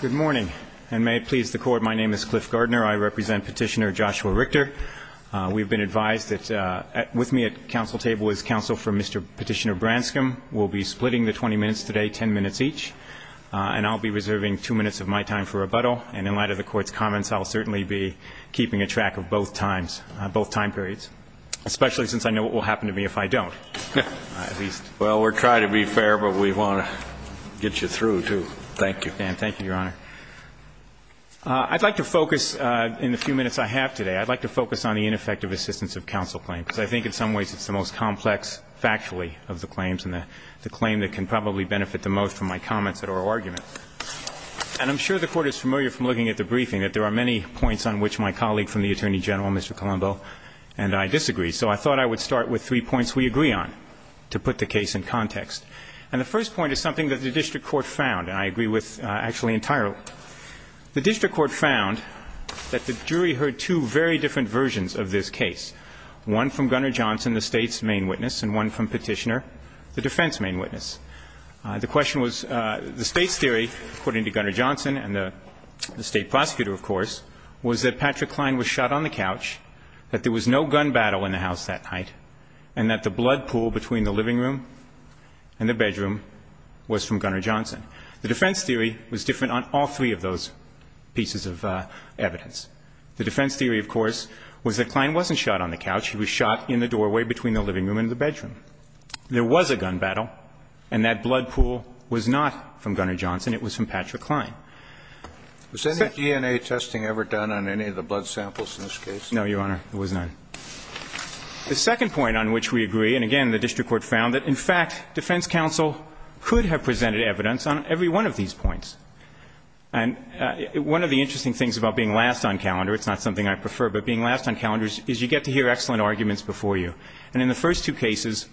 Good morning, and may it please the Court, my name is Cliff Gardner. I represent Petitioner Joshua Richter. We've been advised that with me at counsel table is counsel for Mr. Petitioner Branscombe. We'll be splitting the 20 minutes today, 10 minutes each, and I'll be reserving two minutes of my time for rebuttal, and in light of the Court's comments, I'll certainly be keeping a track of both times, both time periods, especially since I know what will happen to me if I don't. Well, we're trying to be fair, but we want to get you through, too. Thank you. Thank you, Your Honor. I'd like to focus, in the few minutes I have today, I'd like to focus on the ineffective assistance of counsel claims, because I think in some ways it's the most complex, factually, of the claims, and the claim that can probably benefit the most from my comments at oral argument. And I'm sure the Court is familiar from looking at the briefing that there are many points on which my colleague from the Attorney General, Mr. Colombo, and I disagree. So I thought I would start with three points we agree on to put the case in context. And the first point is something that the district court found, and I agree with actually entirely. The district court found that the jury heard two very different versions of this case, one from Gunner Johnson, the State's main witness, and one from Petitioner, the defense main witness. The question was, the State's theory, according to Gunner Johnson and the State prosecutor, of course, was that Patrick Kline was shot on the couch, that there was no gun battle in the house that night, and that the blood pool between the living room and the bedroom was from Gunner Johnson. The defense theory was different on all three of those pieces of evidence. The defense theory, of course, was that Kline wasn't shot on the couch. He was shot in the doorway between the living room and the bedroom. There was a gun battle, and that blood pool was not from Gunner Johnson. It was from Patrick Kline. Was any DNA testing ever done on any of the blood samples in this case? No, Your Honor, there was none. The second point on which we agree, and again, the district court found that, in fact, defense counsel could have presented evidence on every one of these points. And one of the interesting things about being last on calendar, it's not something I prefer, but being last on calendars is you get to hear excellent arguments before you. And in the first two cases,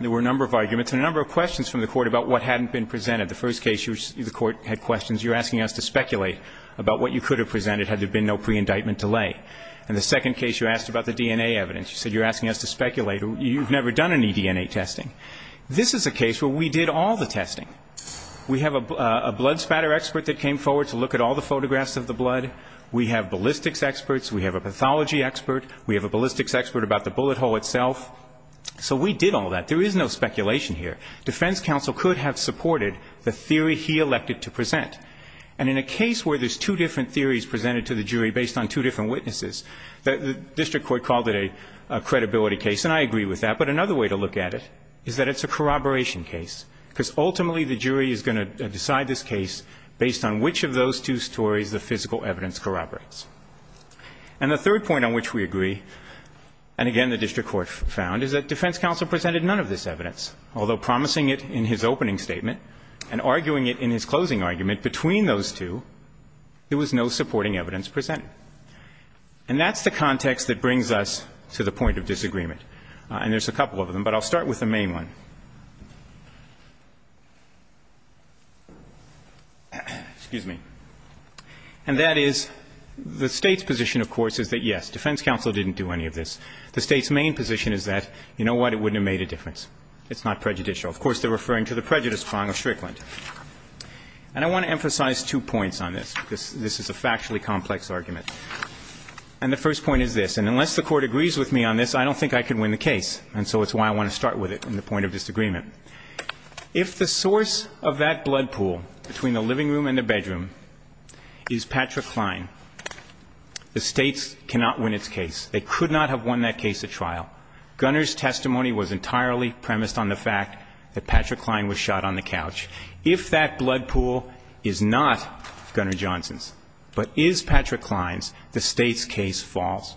there were a number of arguments and a number of questions from the court about what hadn't been presented. The first case, the court had questions. You're asking us to speculate about what you could have presented had there been no pre-indictment delay. In the second case, you asked about the DNA evidence. You said you're asking us to speculate. You've never done any DNA testing. This is a case where we did all the testing. We have a blood spatter expert that came forward to look at all the photographs of the blood. We have ballistics experts. We have a pathology expert. We have a ballistics expert about the bullet hole itself. So we did all that. There is no speculation here. Defense counsel could have supported the theory he elected to present. And in a case where there's two different theories presented to the jury based on two different witnesses, the district court called it a credibility case. And I agree with that. But another way to look at it is that it's a corroboration case, because ultimately the jury is going to decide this case based on which of those two stories the physical evidence corroborates. And the third point on which we agree, and again the district court found, is that defense counsel presented none of this evidence. Although promising it in his opening statement and arguing it in his closing argument between those two, there was no supporting evidence presented. And that's the context that brings us to the point of disagreement. And there's a couple of them, but I'll start with the main one. Excuse me. And that is the State's position, of course, is that, yes, defense counsel didn't do any of this. The State's main position is that, you know what, it wouldn't have made a difference. It's not prejudicial. Of course, they're referring to the prejudice prong of Strickland. And I want to emphasize two points on this. This is a factually complex argument. And the first point is this. And unless the Court agrees with me on this, I don't think I can win the case. And so it's why I want to start with it in the point of disagreement. If the source of that blood pool between the living room and the bedroom is Patrick Kline, the State's cannot win its case. They could not have won that case at trial. Gunner's testimony was entirely premised on the fact that Patrick Kline was shot on the couch. If that blood pool is not Gunner Johnson's but is Patrick Kline's, the State's case falls.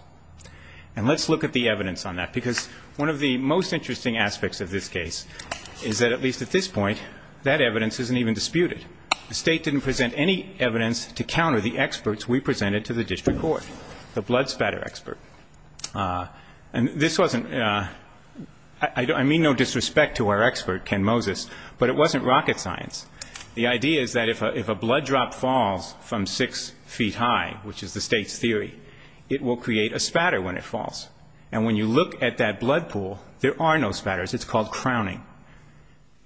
And let's look at the evidence on that, because one of the most interesting aspects of this case is that, at least at this point, that evidence isn't even disputed. The State didn't present any evidence to counter the experts we presented to the district court, the blood spatter expert. And this wasn't ‑‑ I mean no disrespect to our expert, Ken Moses, but it wasn't rocket science. The idea is that if a blood drop falls from six feet high, which is the State's theory, it will create a spatter when it falls. And when you look at that blood pool, there are no spatters. It's called crowning.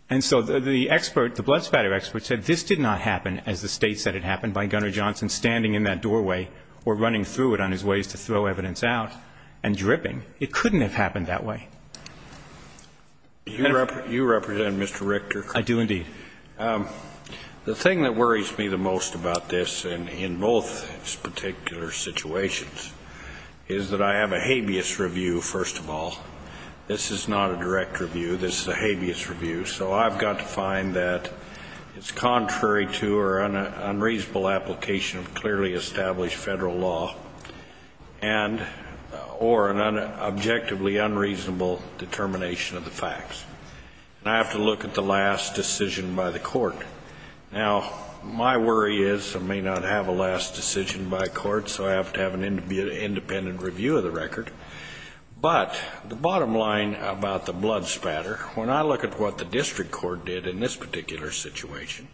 And so the expert, the blood spatter expert, said this did not happen as the State said it happened by Gunner Johnson standing in that doorway or running through it on his ways to throw evidence out and dripping. It couldn't have happened that way. You represent Mr. Richter? I do, indeed. The thing that worries me the most about this and in both particular situations is that I have a habeas review, first of all. This is not a direct review. This is a habeas review. So I've got to find that it's contrary to or unreasonable application of clearly established federal law or an objectively unreasonable determination of the facts. And I have to look at the last decision by the court. Now, my worry is I may not have a last decision by court, so I have to have an independent review of the record. But the bottom line about the blood spatter, when I look at what the district court did in this particular situation,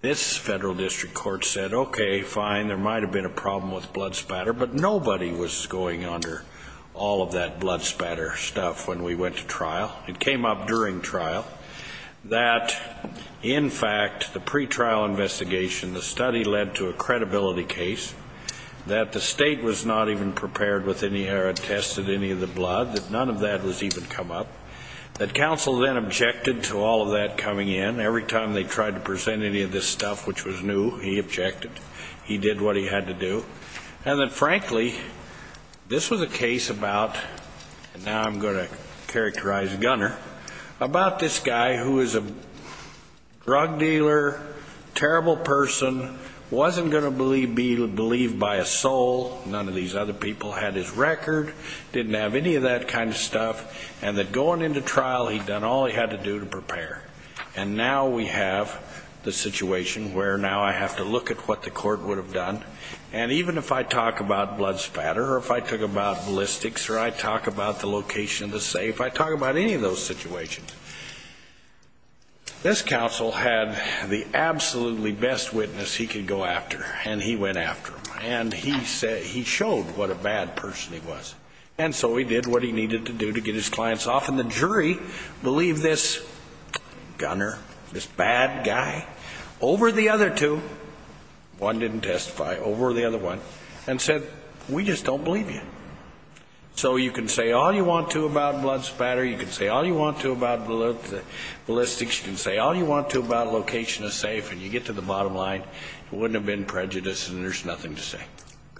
this federal district court said, okay, fine, there might have been a problem with blood spatter, but nobody was going under all of that blood spatter stuff when we went to trial. It came up during trial that, in fact, the pretrial investigation, the study led to a credibility case that the state was not even prepared with any or attested any of the blood, that none of that was even come up, that counsel then objected to all of that coming in. Every time they tried to present any of this stuff, which was new, he objected. He did what he had to do. And then, frankly, this was a case about, and now I'm going to characterize Gunner, about this guy who is a drug dealer, terrible person, wasn't going to be believed by a soul, none of these other people had his record, didn't have any of that kind of stuff, and that going into trial he'd done all he had to do to prepare. And now we have the situation where now I have to look at what the court would have done. And even if I talk about blood spatter or if I talk about ballistics or I talk about the location of the safe, if I talk about any of those situations, this counsel had the absolutely best witness he could go after, and he went after him, and he showed what a bad person he was. And so he did what he needed to do to get his clients off, and the jury believed this Gunner, this bad guy, over the other two, one didn't testify, over the other one, and said, we just don't believe you. So you can say all you want to about blood spatter, you can say all you want to about ballistics, you can say all you want to about location of safe, and you get to the bottom line, it wouldn't have been prejudice and there's nothing to say.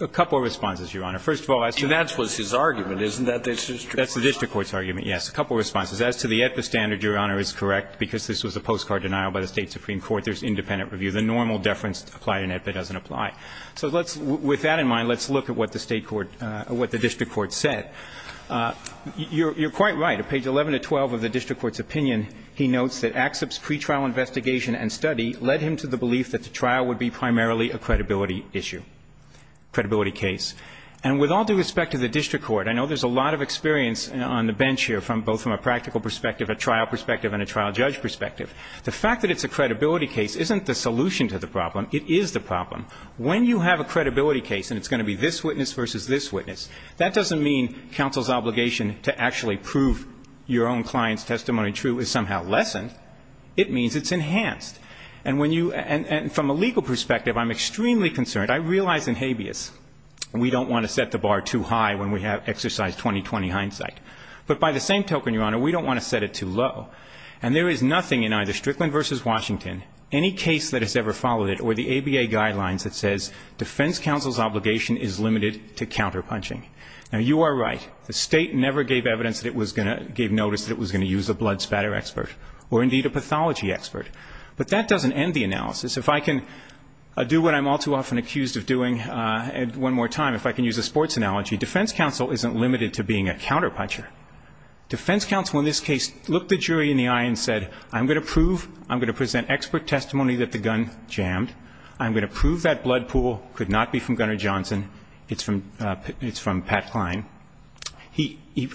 A couple of responses, Your Honor. First of all, that was his argument, isn't that? That's the district court's argument, yes. A couple of responses. As to the EBPA standard, Your Honor, is correct, because this was a postcard denial by the State Supreme Court. There's independent review. The normal deference applied in EBPA doesn't apply. So let's, with that in mind, let's look at what the State court, what the district court said. You're quite right. On page 11 to 12 of the district court's opinion, he notes that AXIP's pre-trial investigation and study led him to the belief that the trial would be primarily a credibility issue, credibility case. And with all due respect to the district court, I know there's a lot of experience on the bench here, both from a practical perspective, a trial perspective, and a trial judge perspective. The fact that it's a credibility case isn't the solution to the problem, it is the problem. When you have a credibility case and it's going to be this witness versus this witness, that doesn't mean counsel's obligation to actually prove your own client's testimony true is somehow lessened. It means it's enhanced. And from a legal perspective, I'm extremely concerned. I realize in habeas we don't want to set the bar too high when we have exercise 20-20 hindsight. But by the same token, Your Honor, we don't want to set it too low. And there is nothing in either Strickland v. Washington, any case that has ever followed it, were the ABA guidelines that says defense counsel's obligation is limited to counterpunching. Now, you are right. The state never gave evidence that it was going to give notice that it was going to use a blood spatter expert, or indeed a pathology expert. But that doesn't end the analysis. If I can do what I'm all too often accused of doing one more time, if I can use a sports analogy, defense counsel isn't limited to being a counterpuncher. Defense counsel in this case looked the jury in the eye and said, I'm going to prove, I'm going to present expert testimony that the gun jammed. I'm going to prove that blood pool could not be from Gunner Johnson. It's from Pat Klein.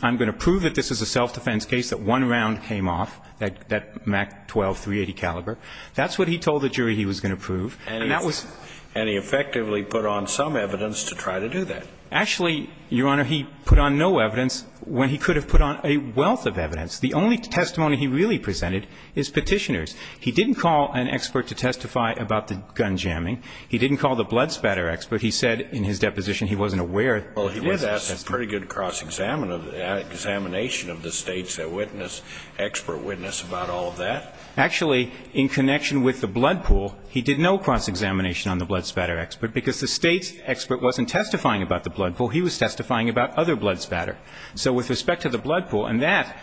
I'm going to prove that this is a self-defense case, that one round came off, that MAC-12 .380 caliber. That's what he told the jury he was going to prove. And that was. And he effectively put on some evidence to try to do that. Actually, Your Honor, he put on no evidence when he could have put on a wealth of evidence. The only testimony he really presented is Petitioner's. He didn't call an expert to testify about the gun jamming. He didn't call the blood spatter expert. He said in his deposition he wasn't aware. Well, he was. That's a pretty good cross-examination of the State's witness, expert witness about all of that. Actually, in connection with the blood pool, he did no cross-examination on the blood spatter expert, because the State's expert wasn't testifying about the blood pool. He was testifying about other blood spatter. So with respect to the blood pool, and that,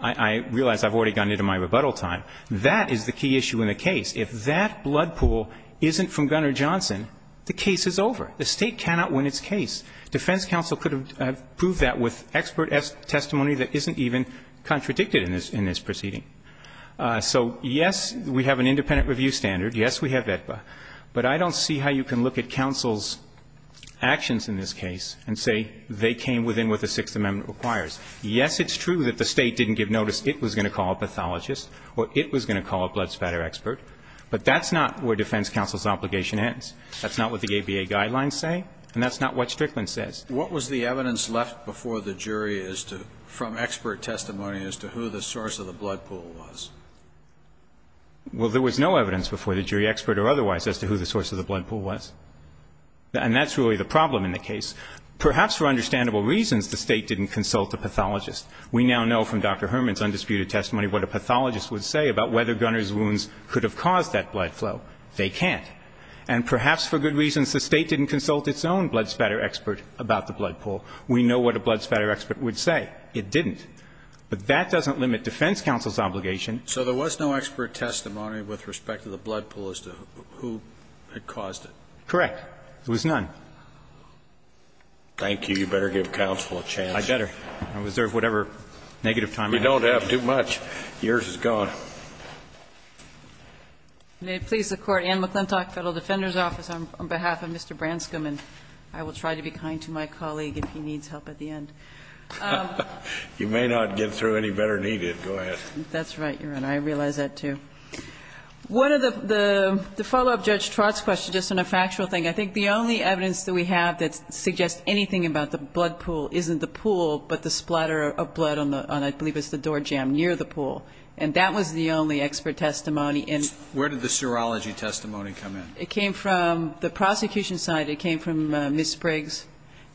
I realize I've already gone into my rebuttal time, that is the key issue in the case. If that blood pool isn't from Gunnar Johnson, the case is over. The State cannot win its case. Defense counsel could have proved that with expert testimony that isn't even contradicted in this proceeding. So, yes, we have an independent review standard. Yes, we have AEDPA. But I don't see how you can look at counsel's actions in this case and say they came within what the Sixth Amendment requires. Yes, it's true that the State didn't give notice it was going to call a pathologist or it was going to call a blood spatter expert. But that's not where defense counsel's obligation ends. That's not what the ABA guidelines say, and that's not what Strickland says. What was the evidence left before the jury as to – from expert testimony as to who the source of the blood pool was? Well, there was no evidence before the jury, expert or otherwise, as to who the source of the blood pool was. And that's really the problem in the case. Perhaps for understandable reasons, the State didn't consult a pathologist. We now know from Dr. Herman's undisputed testimony what a pathologist would say about whether Gunner's wounds could have caused that blood flow. They can't. And perhaps for good reasons, the State didn't consult its own blood spatter expert about the blood pool. We know what a blood spatter expert would say. It didn't. But that doesn't limit defense counsel's obligation. So there was no expert testimony with respect to the blood pool as to who had caused Correct. There was none. Thank you. You better give counsel a chance. I better. I reserve whatever negative time I have. You don't have too much. Yours is gone. May it please the Court, Anne McClintock, Federal Defender's Office, on behalf of Mr. Branscom. And I will try to be kind to my colleague if he needs help at the end. You may not get through any better than he did. Go ahead. That's right, Your Honor. I realize that, too. One of the – the follow-up to Judge Trott's question, just on a factual thing, I think the only evidence that we have that suggests anything about the blood pool isn't the pool, but the splatter of blood on the – I believe it's the door jam near the pool. And that was the only expert testimony. Where did the serology testimony come in? It came from the prosecution side. It came from Ms. Briggs.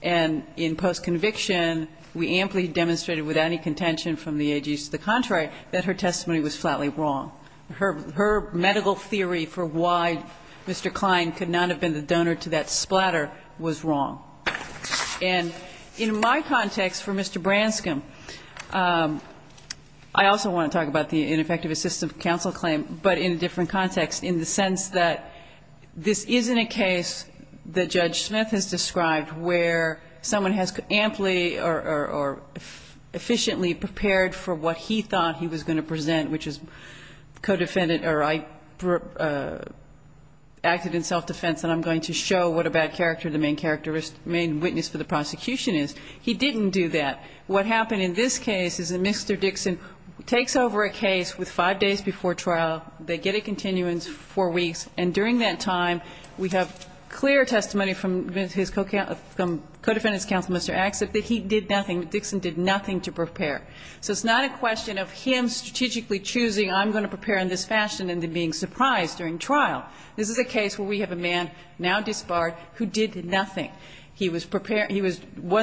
And in post-conviction, we amply demonstrated, without any contention from the AGs to the contrary, that her testimony was flatly wrong. Her medical theory for why Mr. Klein could not have been the donor to that splatter was wrong. And in my context for Mr. Branscom, I also want to talk about the ineffective assistance counsel claim, but in a different context, in the sense that this isn't a case that Judge Smith has described where someone has amply or efficiently prepared for what he thought he was going to present, which is co-defendant or acted in self-defense, and I'm going to show what a bad character, the main witness for the prosecution is. He didn't do that. What happened in this case is that Mr. Dixon takes over a case with five days before trial. They get a continuance, four weeks, and during that time, we have clear testimony from his co-counsel, from co-defendant's counsel, Mr. Axett, that he did nothing. Dixon did nothing to prepare. So it's not a question of him strategically choosing, I'm going to prepare in this fashion, and then being surprised during trial. This is a case where we have a man now disbarred who did nothing. He was prepared. He was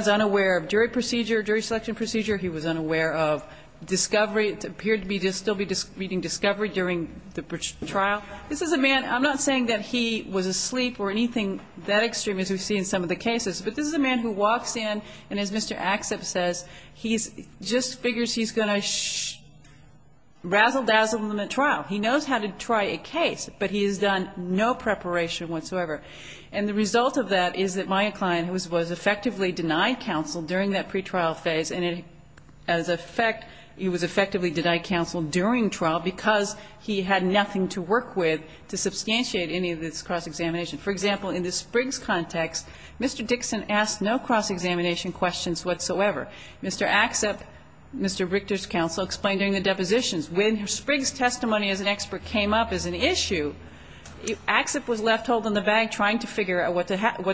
unaware of jury procedure, jury selection procedure. He was unaware of discovery. It appeared to me he would still be reading discovery during the trial. This is a man, I'm not saying that he was asleep or anything that extreme as we've seen in some of the cases, but this is a man who walks in, and as Mr. Axett says, he just figures he's going to razzle-dazzle in the trial. He knows how to try a case, but he has done no preparation whatsoever. And the result of that is that my client was effectively denied counsel during that pretrial phase, and as a fact, he was effectively denied counsel during trial because he had nothing to work with to substantiate any of this cross-examination. For example, in the Spriggs context, Mr. Dixon asked no cross-examination questions whatsoever. Mr. Axett, Mr. Richter's counsel, explained during the depositions, when Spriggs' testimony as an expert came up as an issue, Axett was left holding the bag trying to figure out what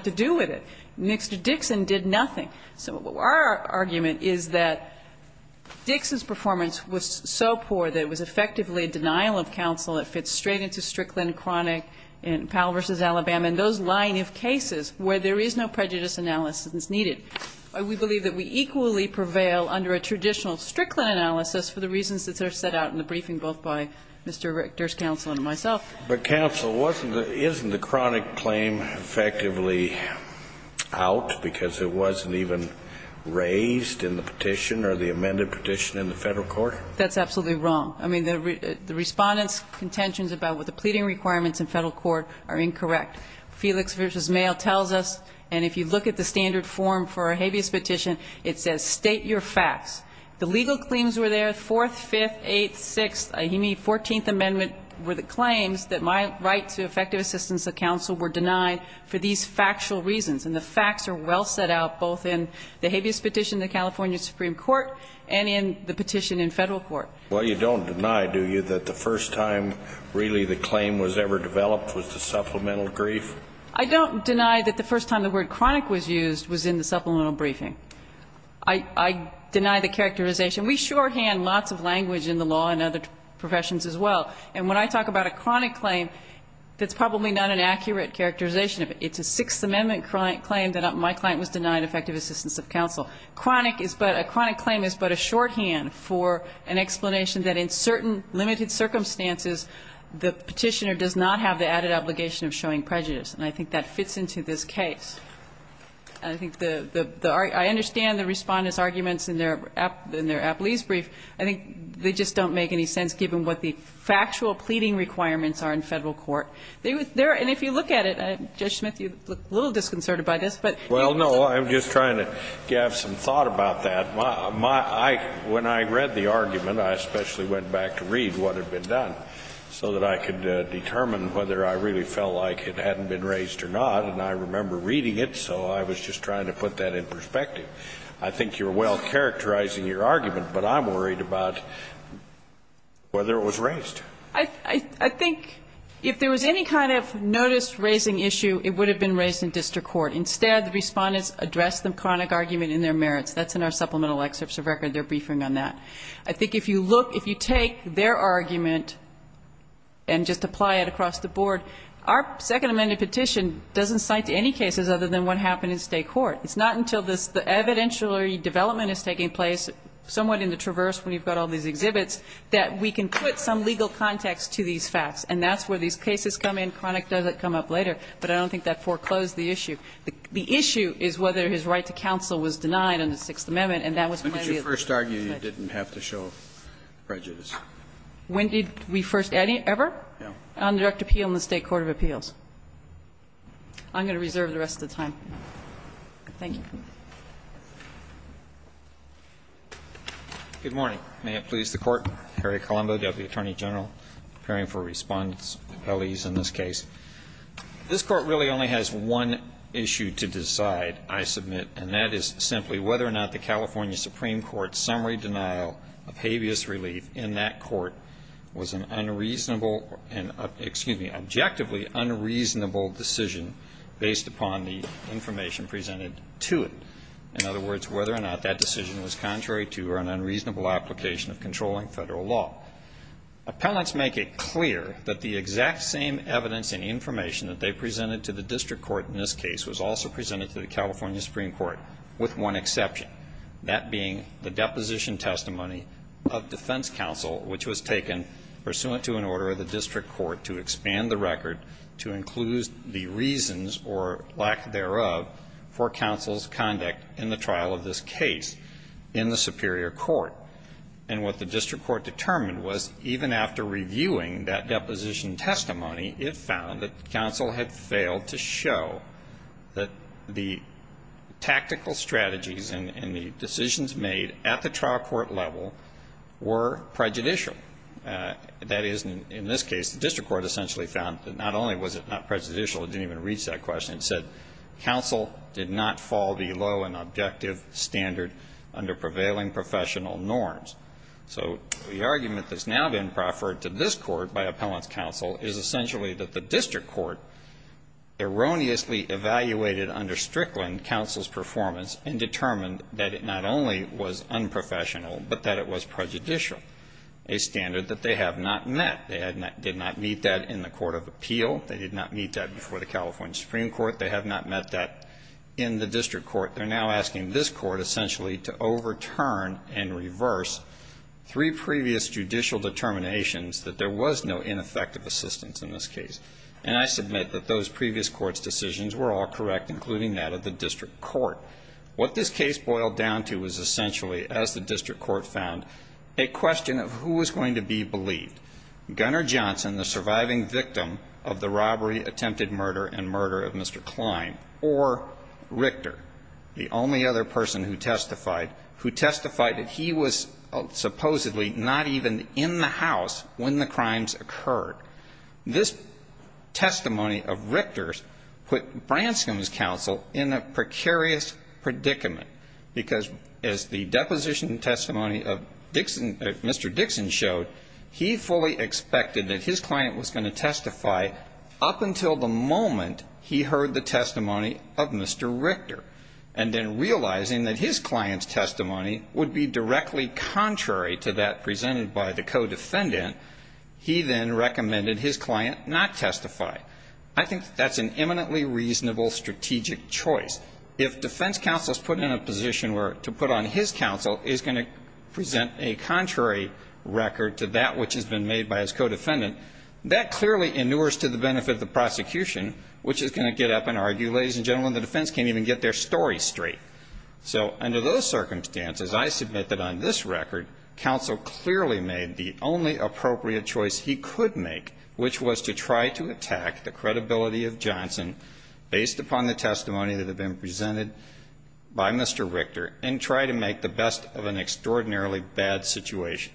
to do with it. Mr. Dixon did nothing. So our argument is that Dixon's performance was so poor that it was effectively a denial of counsel that fits straight into Strickland, Chronic, Powell v. Alabama and those line of cases where there is no prejudice analysis needed. We believe that we equally prevail under a traditional Strickland analysis for the reasons that are set out in the briefing both by Mr. Richter's counsel and myself. But, counsel, wasn't the isn't the Chronic claim effectively out because it wasn't even raised in the petition or the amended petition in the Federal court? That's absolutely wrong. I mean, the Respondent's contentions about what the pleading requirements in Federal court are incorrect. Felix v. Mayo tells us, and if you look at the standard form for a habeas petition, it says state your facts. The legal claims were there. The 4th, 5th, 8th, 6th, 14th Amendment were the claims that my right to effective assistance of counsel were denied for these factual reasons. And the facts are well set out both in the habeas petition in the California Supreme Court and in the petition in Federal court. Well, you don't deny, do you, that the first time really the claim was ever developed was the supplemental brief? I don't deny that the first time the word Chronic was used was in the supplemental briefing. I deny the characterization. We shorthand lots of language in the law and other professions as well. And when I talk about a chronic claim, that's probably not an accurate characterization of it. It's a 6th Amendment claim that my claim was denied effective assistance of counsel. A chronic claim is but a shorthand for an explanation that in certain limited circumstances the petitioner does not have the added obligation of showing prejudice. And I think that fits into this case. I understand the Respondent's arguments in their Apley's brief. I think they just don't make any sense given what the factual pleading requirements are in Federal court. And if you look at it, Judge Smith, you look a little disconcerted by this. Well, no. I'm just trying to have some thought about that. When I read the argument, I especially went back to read what had been done so that I could determine whether I really felt like it hadn't been raised or not. And I remember reading it, so I was just trying to put that in perspective. I think you're well-characterizing your argument, but I'm worried about whether it was raised. I think if there was any kind of notice-raising issue, it would have been raised in district court. Instead, the Respondents addressed the chronic argument in their merits. That's in our supplemental excerpts of record. They're briefing on that. I think if you look, if you take their argument and just apply it across the board, our Second Amendment petition doesn't cite any cases other than what happened in State court. It's not until the evidentiary development is taking place, somewhat in the traverse when you've got all these exhibits, that we can put some legal context to these facts. And that's where these cases come in. Chronic doesn't come up later. But I don't think that foreclosed the issue. The issue is whether his right to counsel was denied in the Sixth Amendment, and that was one of the other things. Kennedy, when did you first argue you didn't have to show prejudice? When did we first ever? Yeah. On direct appeal in the State court of appeals. I'm going to reserve the rest of the time. Thank you. Good morning. May it please the Court. Harry Colombo, W. Attorney General, preparing for Respondents, appellees in this case. This Court really only has one issue to decide, I submit, and that is simply whether or not the California Supreme Court's summary denial of habeas relief in that court was an unreasonable, excuse me, objectively unreasonable decision based upon the information presented to it. In other words, whether or not that decision was contrary to or an unreasonable application of controlling federal law. Appellants make it clear that the exact same evidence and information that they presented to the District Court in this case was also presented to the California Supreme Court, with one exception. That being the deposition testimony of defense counsel, which was taken pursuant to an order of the District Court to expand the record to include the reasons or lack thereof for counsel's conduct in the trial of this case in the Superior Court. And what the District Court determined was even after reviewing that deposition testimony, it found that counsel had failed to show that the tactical strategies and the decisions made at the trial court level were prejudicial. That is, in this case, the District Court essentially found that not only was it not prejudicial, it didn't even reach that question. It said counsel did not fall below an objective standard under prevailing professional norms. So the argument that's now been proffered to this Court by appellants counsel is essentially that the District Court erroneously evaluated under Strickland counsel's performance and determined that it not only was unprofessional, but that it was prejudicial, a standard that they have not met. They did not meet that in the Court of Appeal. They did not meet that before the California Supreme Court. They have not met that in the District Court. They're now asking this Court essentially to overturn and reverse three previous judicial determinations that there was no ineffective assistance in this case. And I submit that those previous courts' decisions were all correct, including that of the District Court. What this case boiled down to was essentially, as the District Court found, a question of who was going to be believed. Gunner Johnson, the surviving victim of the robbery, attempted murder, and murder of Mr. Klein, or Richter, the only other person who testified, who testified that he was supposedly not even in the house when the crimes occurred. This testimony of Richter's put Branscom's counsel in a precarious predicament, because, as the deposition testimony of Dixon, Mr. Dixon showed, he fully expected that his client was going to testify up until the moment he heard the testimony of Mr. Richter. And then realizing that his client's testimony would be directly contrary to that not testify. I think that's an eminently reasonable strategic choice. If defense counsel is put in a position where to put on his counsel is going to present a contrary record to that which has been made by his co-defendant, that clearly inures to the benefit of the prosecution, which is going to get up and argue, ladies and gentlemen, the defense can't even get their story straight. So under those circumstances, I submit that on this record, counsel clearly made the only appropriate choice he could make, which was to try to attack the credibility of Johnson, based upon the testimony that had been presented by Mr. Richter, and try to make the best of an extraordinarily bad situation.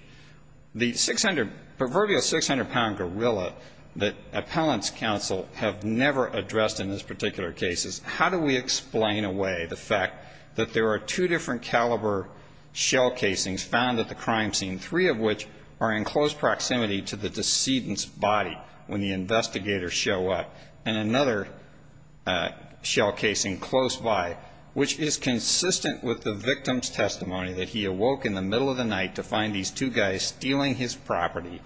The 600, proverbial 600-pound gorilla that appellants counsel have never addressed in this particular case is how do we explain away the fact that there are two different caliber shell casings found at the crime scene, three of which are in close proximity to the decedent's body when the investigators show up. And another shell casing close by, which is consistent with the victim's testimony that he awoke in the middle of the night to find these two guys stealing his property,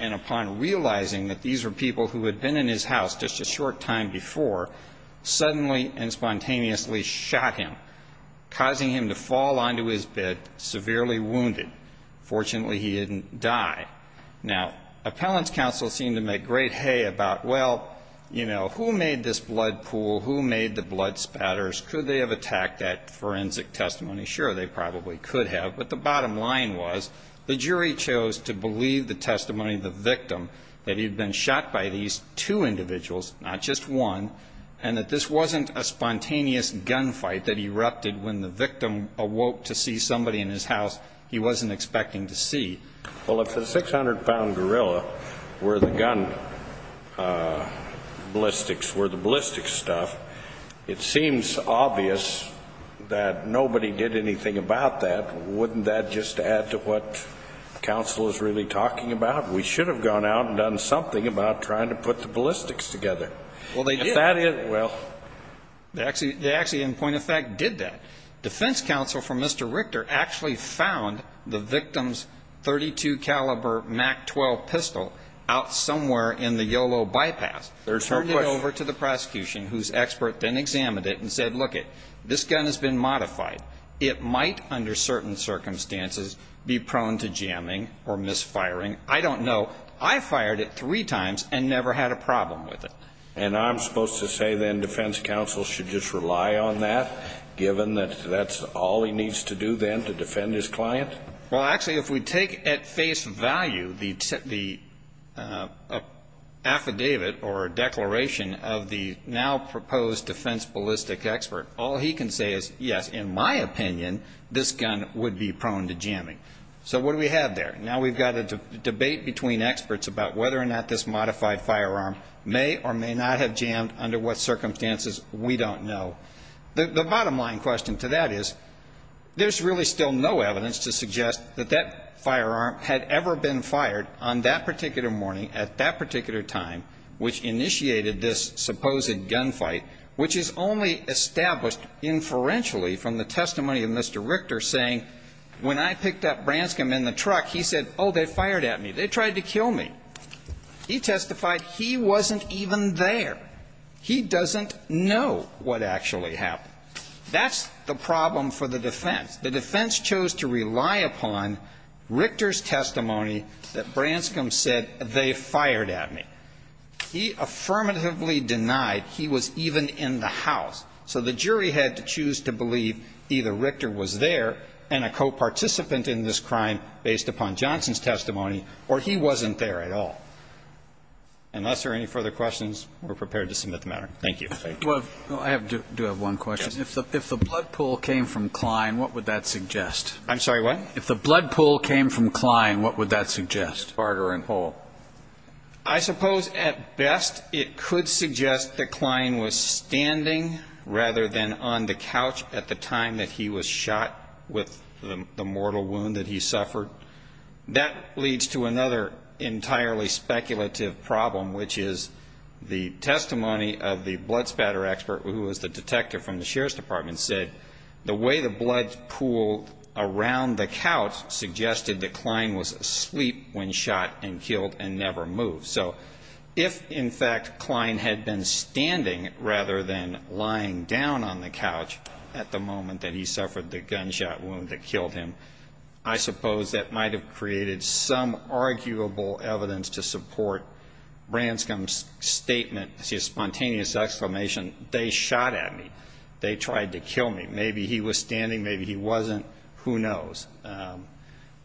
and upon realizing that these were people who had been in his house just a short time before, suddenly and spontaneously shot him, causing him to fall onto his bed, severely wounded. Fortunately, he didn't die. Now, appellants counsel seem to make great hay about, well, you know, who made this blood pool? Who made the blood spatters? Could they have attacked that forensic testimony? Sure, they probably could have. But the bottom line was the jury chose to believe the testimony of the victim, that he had been shot by these two individuals, not just one, and that this wasn't a spontaneous gunfight that erupted when the victim awoke to see somebody in his house he wasn't expecting to see. Well, if the 600-pound gorilla were the gun ballistics, were the ballistics stuff, it seems obvious that nobody did anything about that. Wouldn't that just add to what counsel is really talking about? We should have gone out and done something about trying to put the ballistics together. Well, they did. Well. They actually, in point of fact, did that. Defense counsel for Mr. Richter actually found the victim's .32 caliber MAC-12 pistol out somewhere in the YOLO bypass, turned it over to the prosecution, whose expert then examined it and said, lookit, this gun has been modified. It might, under certain circumstances, be prone to jamming or misfiring. I don't know. I fired it three times and never had a problem with it. And I'm supposed to say then defense counsel should just rely on that, given that that's all he needs to do then to defend his client? Well, actually, if we take at face value the affidavit or declaration of the now proposed defense ballistics expert, all he can say is, yes, in my opinion, this gun would be prone to jamming. So what do we have there? Now we've got a debate between experts about whether or not this modified firearm may or may not have jammed under what circumstances. We don't know. The bottom line question to that is, there's really still no evidence to suggest that that firearm had ever been fired on that particular morning at that particular time, which initiated this supposed gunfight, which is only established inferentially from the testimony of Mr. Richter saying, when I picked up Branscombe in the truck, he said, oh, they fired at me. They tried to kill me. He testified he wasn't even there. He doesn't know what actually happened. That's the problem for the defense. The defense chose to rely upon Richter's testimony that Branscombe said, they fired at me. He affirmatively denied he was even in the house. So the jury had to choose to believe either Richter was there and a co-participant in this crime based upon Johnson's testimony, or he wasn't there at all. Unless there are any further questions, we're prepared to submit the matter. Thank you. Thank you. I do have one question. If the blood pool came from Klein, what would that suggest? I'm sorry, what? If the blood pool came from Klein, what would that suggest? Carter and Hall. I suppose at best it could suggest that Klein was standing rather than on the couch at the time that he was shot with the mortal wound that he suffered. That leads to another entirely speculative problem, which is the testimony of the blood spatter expert, who was the detector from the Sheriff's Department, said, the way the blood pooled around the couch suggested that Klein was asleep when shot and killed and never moved. So if, in fact, Klein had been standing rather than lying down on the couch at the moment that he suffered the gunshot wound that killed him, I suppose that might have created some arguable evidence to support Branscom's statement, his spontaneous exclamation, they shot at me, they tried to kill me. Maybe he was standing, maybe he wasn't, who knows.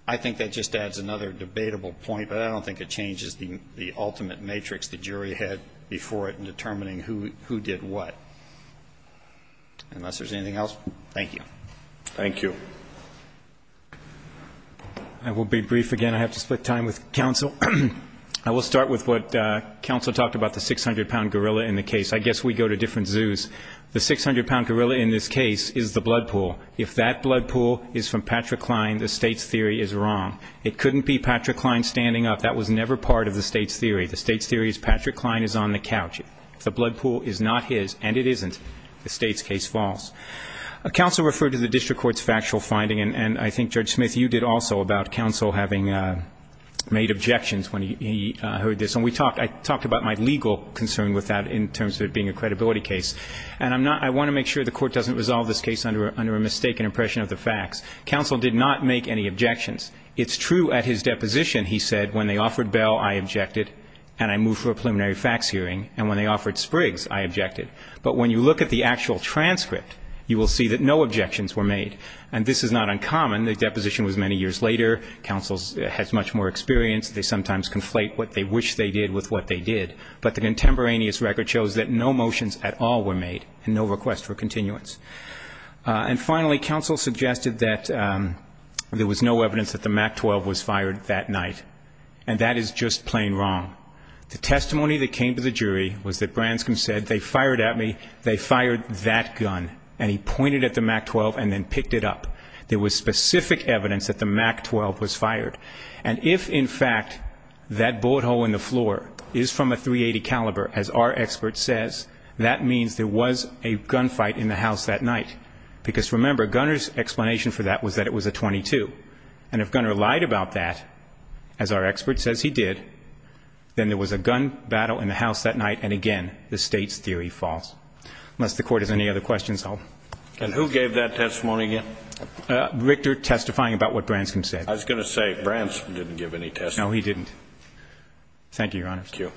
I think that just adds another debatable point, but I don't think it changes the ultimate matrix the jury had before it in determining who did what. Unless there's anything else, thank you. Thank you. I will be brief again. I have to split time with counsel. I will start with what counsel talked about, the 600-pound gorilla in the case. I guess we go to different zoos. The 600-pound gorilla in this case is the blood pool. If that blood pool is from Patrick Klein, the State's theory is wrong. It couldn't be Patrick Klein standing up. That was never part of the State's theory. The State's theory is Patrick Klein is on the couch. If the blood pool is not his, and it isn't, the State's case falls. Counsel referred to the district court's factual finding, and I think, Judge Smith, you did also about counsel having made objections when he heard this. And I talked about my legal concern with that in terms of it being a credibility case. And I want to make sure the court doesn't resolve this case under a mistaken impression of the facts. Counsel did not make any objections. It's true at his deposition, he said, when they offered Bell, I objected, and I moved for a preliminary facts hearing. And when they offered Spriggs, I objected. But when you look at the actual transcript, you will see that no objections were made. And this is not uncommon. The deposition was many years later. Counsel has much more experience. They sometimes conflate what they wish they did with what they did. But the contemporaneous record shows that no motions at all were made and no request for continuance. And finally, counsel suggested that there was no evidence that the MAC-12 was fired that night. And that is just plain wrong. The testimony that came to the jury was that Branscombe said, they fired at me, they fired that gun. And he pointed at the MAC-12 and then picked it up. And if, in fact, that bullet hole in the floor is from a .380 caliber, as our expert says, that means there was a gunfight in the house that night. Because, remember, Gunner's explanation for that was that it was a .22. And if Gunner lied about that, as our expert says he did, then there was a gun battle in the house that night, and, again, the State's theory false. Unless the Court has any other questions. And who gave that testimony again? Richter testifying about what Branscombe said. I was going to say, Branscombe didn't give any testimony. No, he didn't. Thank you, Your Honor. Thank you.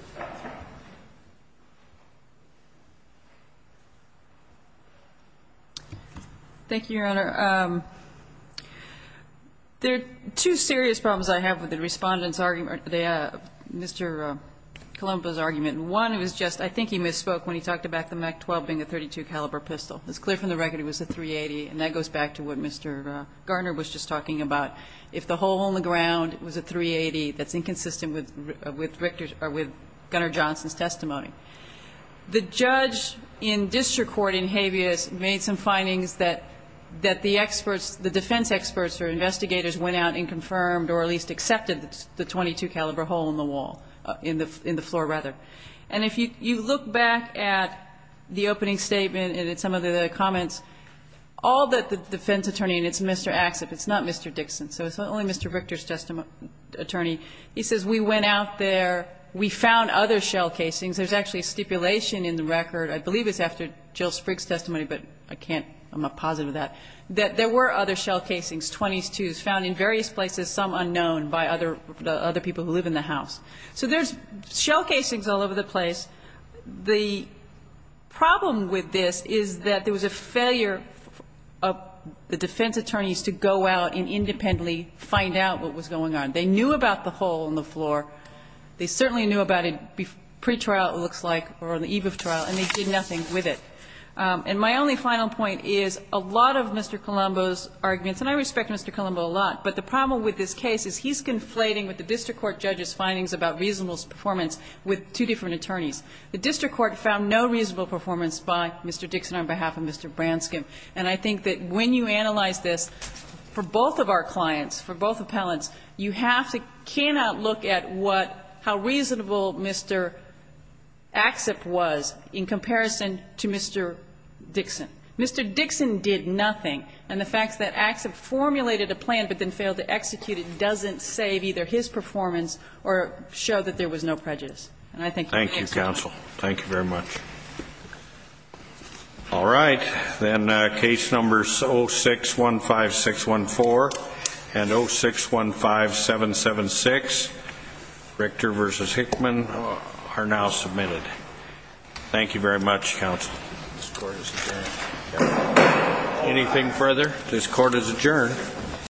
Thank you, Your Honor. There are two serious problems I have with the Respondent's argument, Mr. Colombo's argument. One was just, I think he misspoke when he talked about the MAC-12 being a .32 caliber pistol. It's clear from the record it was a .380. And that goes back to what Mr. Garner was just talking about. If the hole in the ground was a .380, that's inconsistent with Gunner Johnson's testimony. The judge in district court in Habeas made some findings that the experts, the defense experts or investigators went out and confirmed or at least accepted the .22 caliber hole in the wall, in the floor rather. And if you look back at the opening statement and at some of the other comments, all that the defense attorney, and it's Mr. Axsoff, it's not Mr. Dixon, so it's not only Mr. Richter's testimony, attorney. He says we went out there, we found other shell casings. There's actually stipulation in the record. I believe it's after Jill Sprigg's testimony, but I can't, I'm not positive of that, that there were other shell casings, .22s, found in various places, some unknown by other people who live in the house. So there's shell casings all over the place. The problem with this is that there was a failure of the defense attorneys to go out and independently find out what was going on. They knew about the hole in the floor. They certainly knew about it pretrial, it looks like, or on the eve of trial, and they did nothing with it. And my only final point is a lot of Mr. Colombo's arguments, and I respect Mr. Colombo a lot, but the problem with this case is he's conflating what the district court judge's findings about reasonable performance with two different attorneys. The district court found no reasonable performance by Mr. Dixon on behalf of Mr. Branscom. And I think that when you analyze this, for both of our clients, for both appellants, you have to, cannot look at what, how reasonable Mr. Axsop was in comparison to Mr. Dixon. Mr. Dixon did nothing. And the fact that Axsop formulated a plan but then failed to execute it doesn't save either his performance or show that there was no prejudice. And I think that the case is won. Thank you, counsel. Thank you very much. All right. Then case numbers 0615614 and 0615776, Richter v. Hickman, are now submitted. Thank you very much, counsel. This court is adjourned. Anything further? This court is adjourned.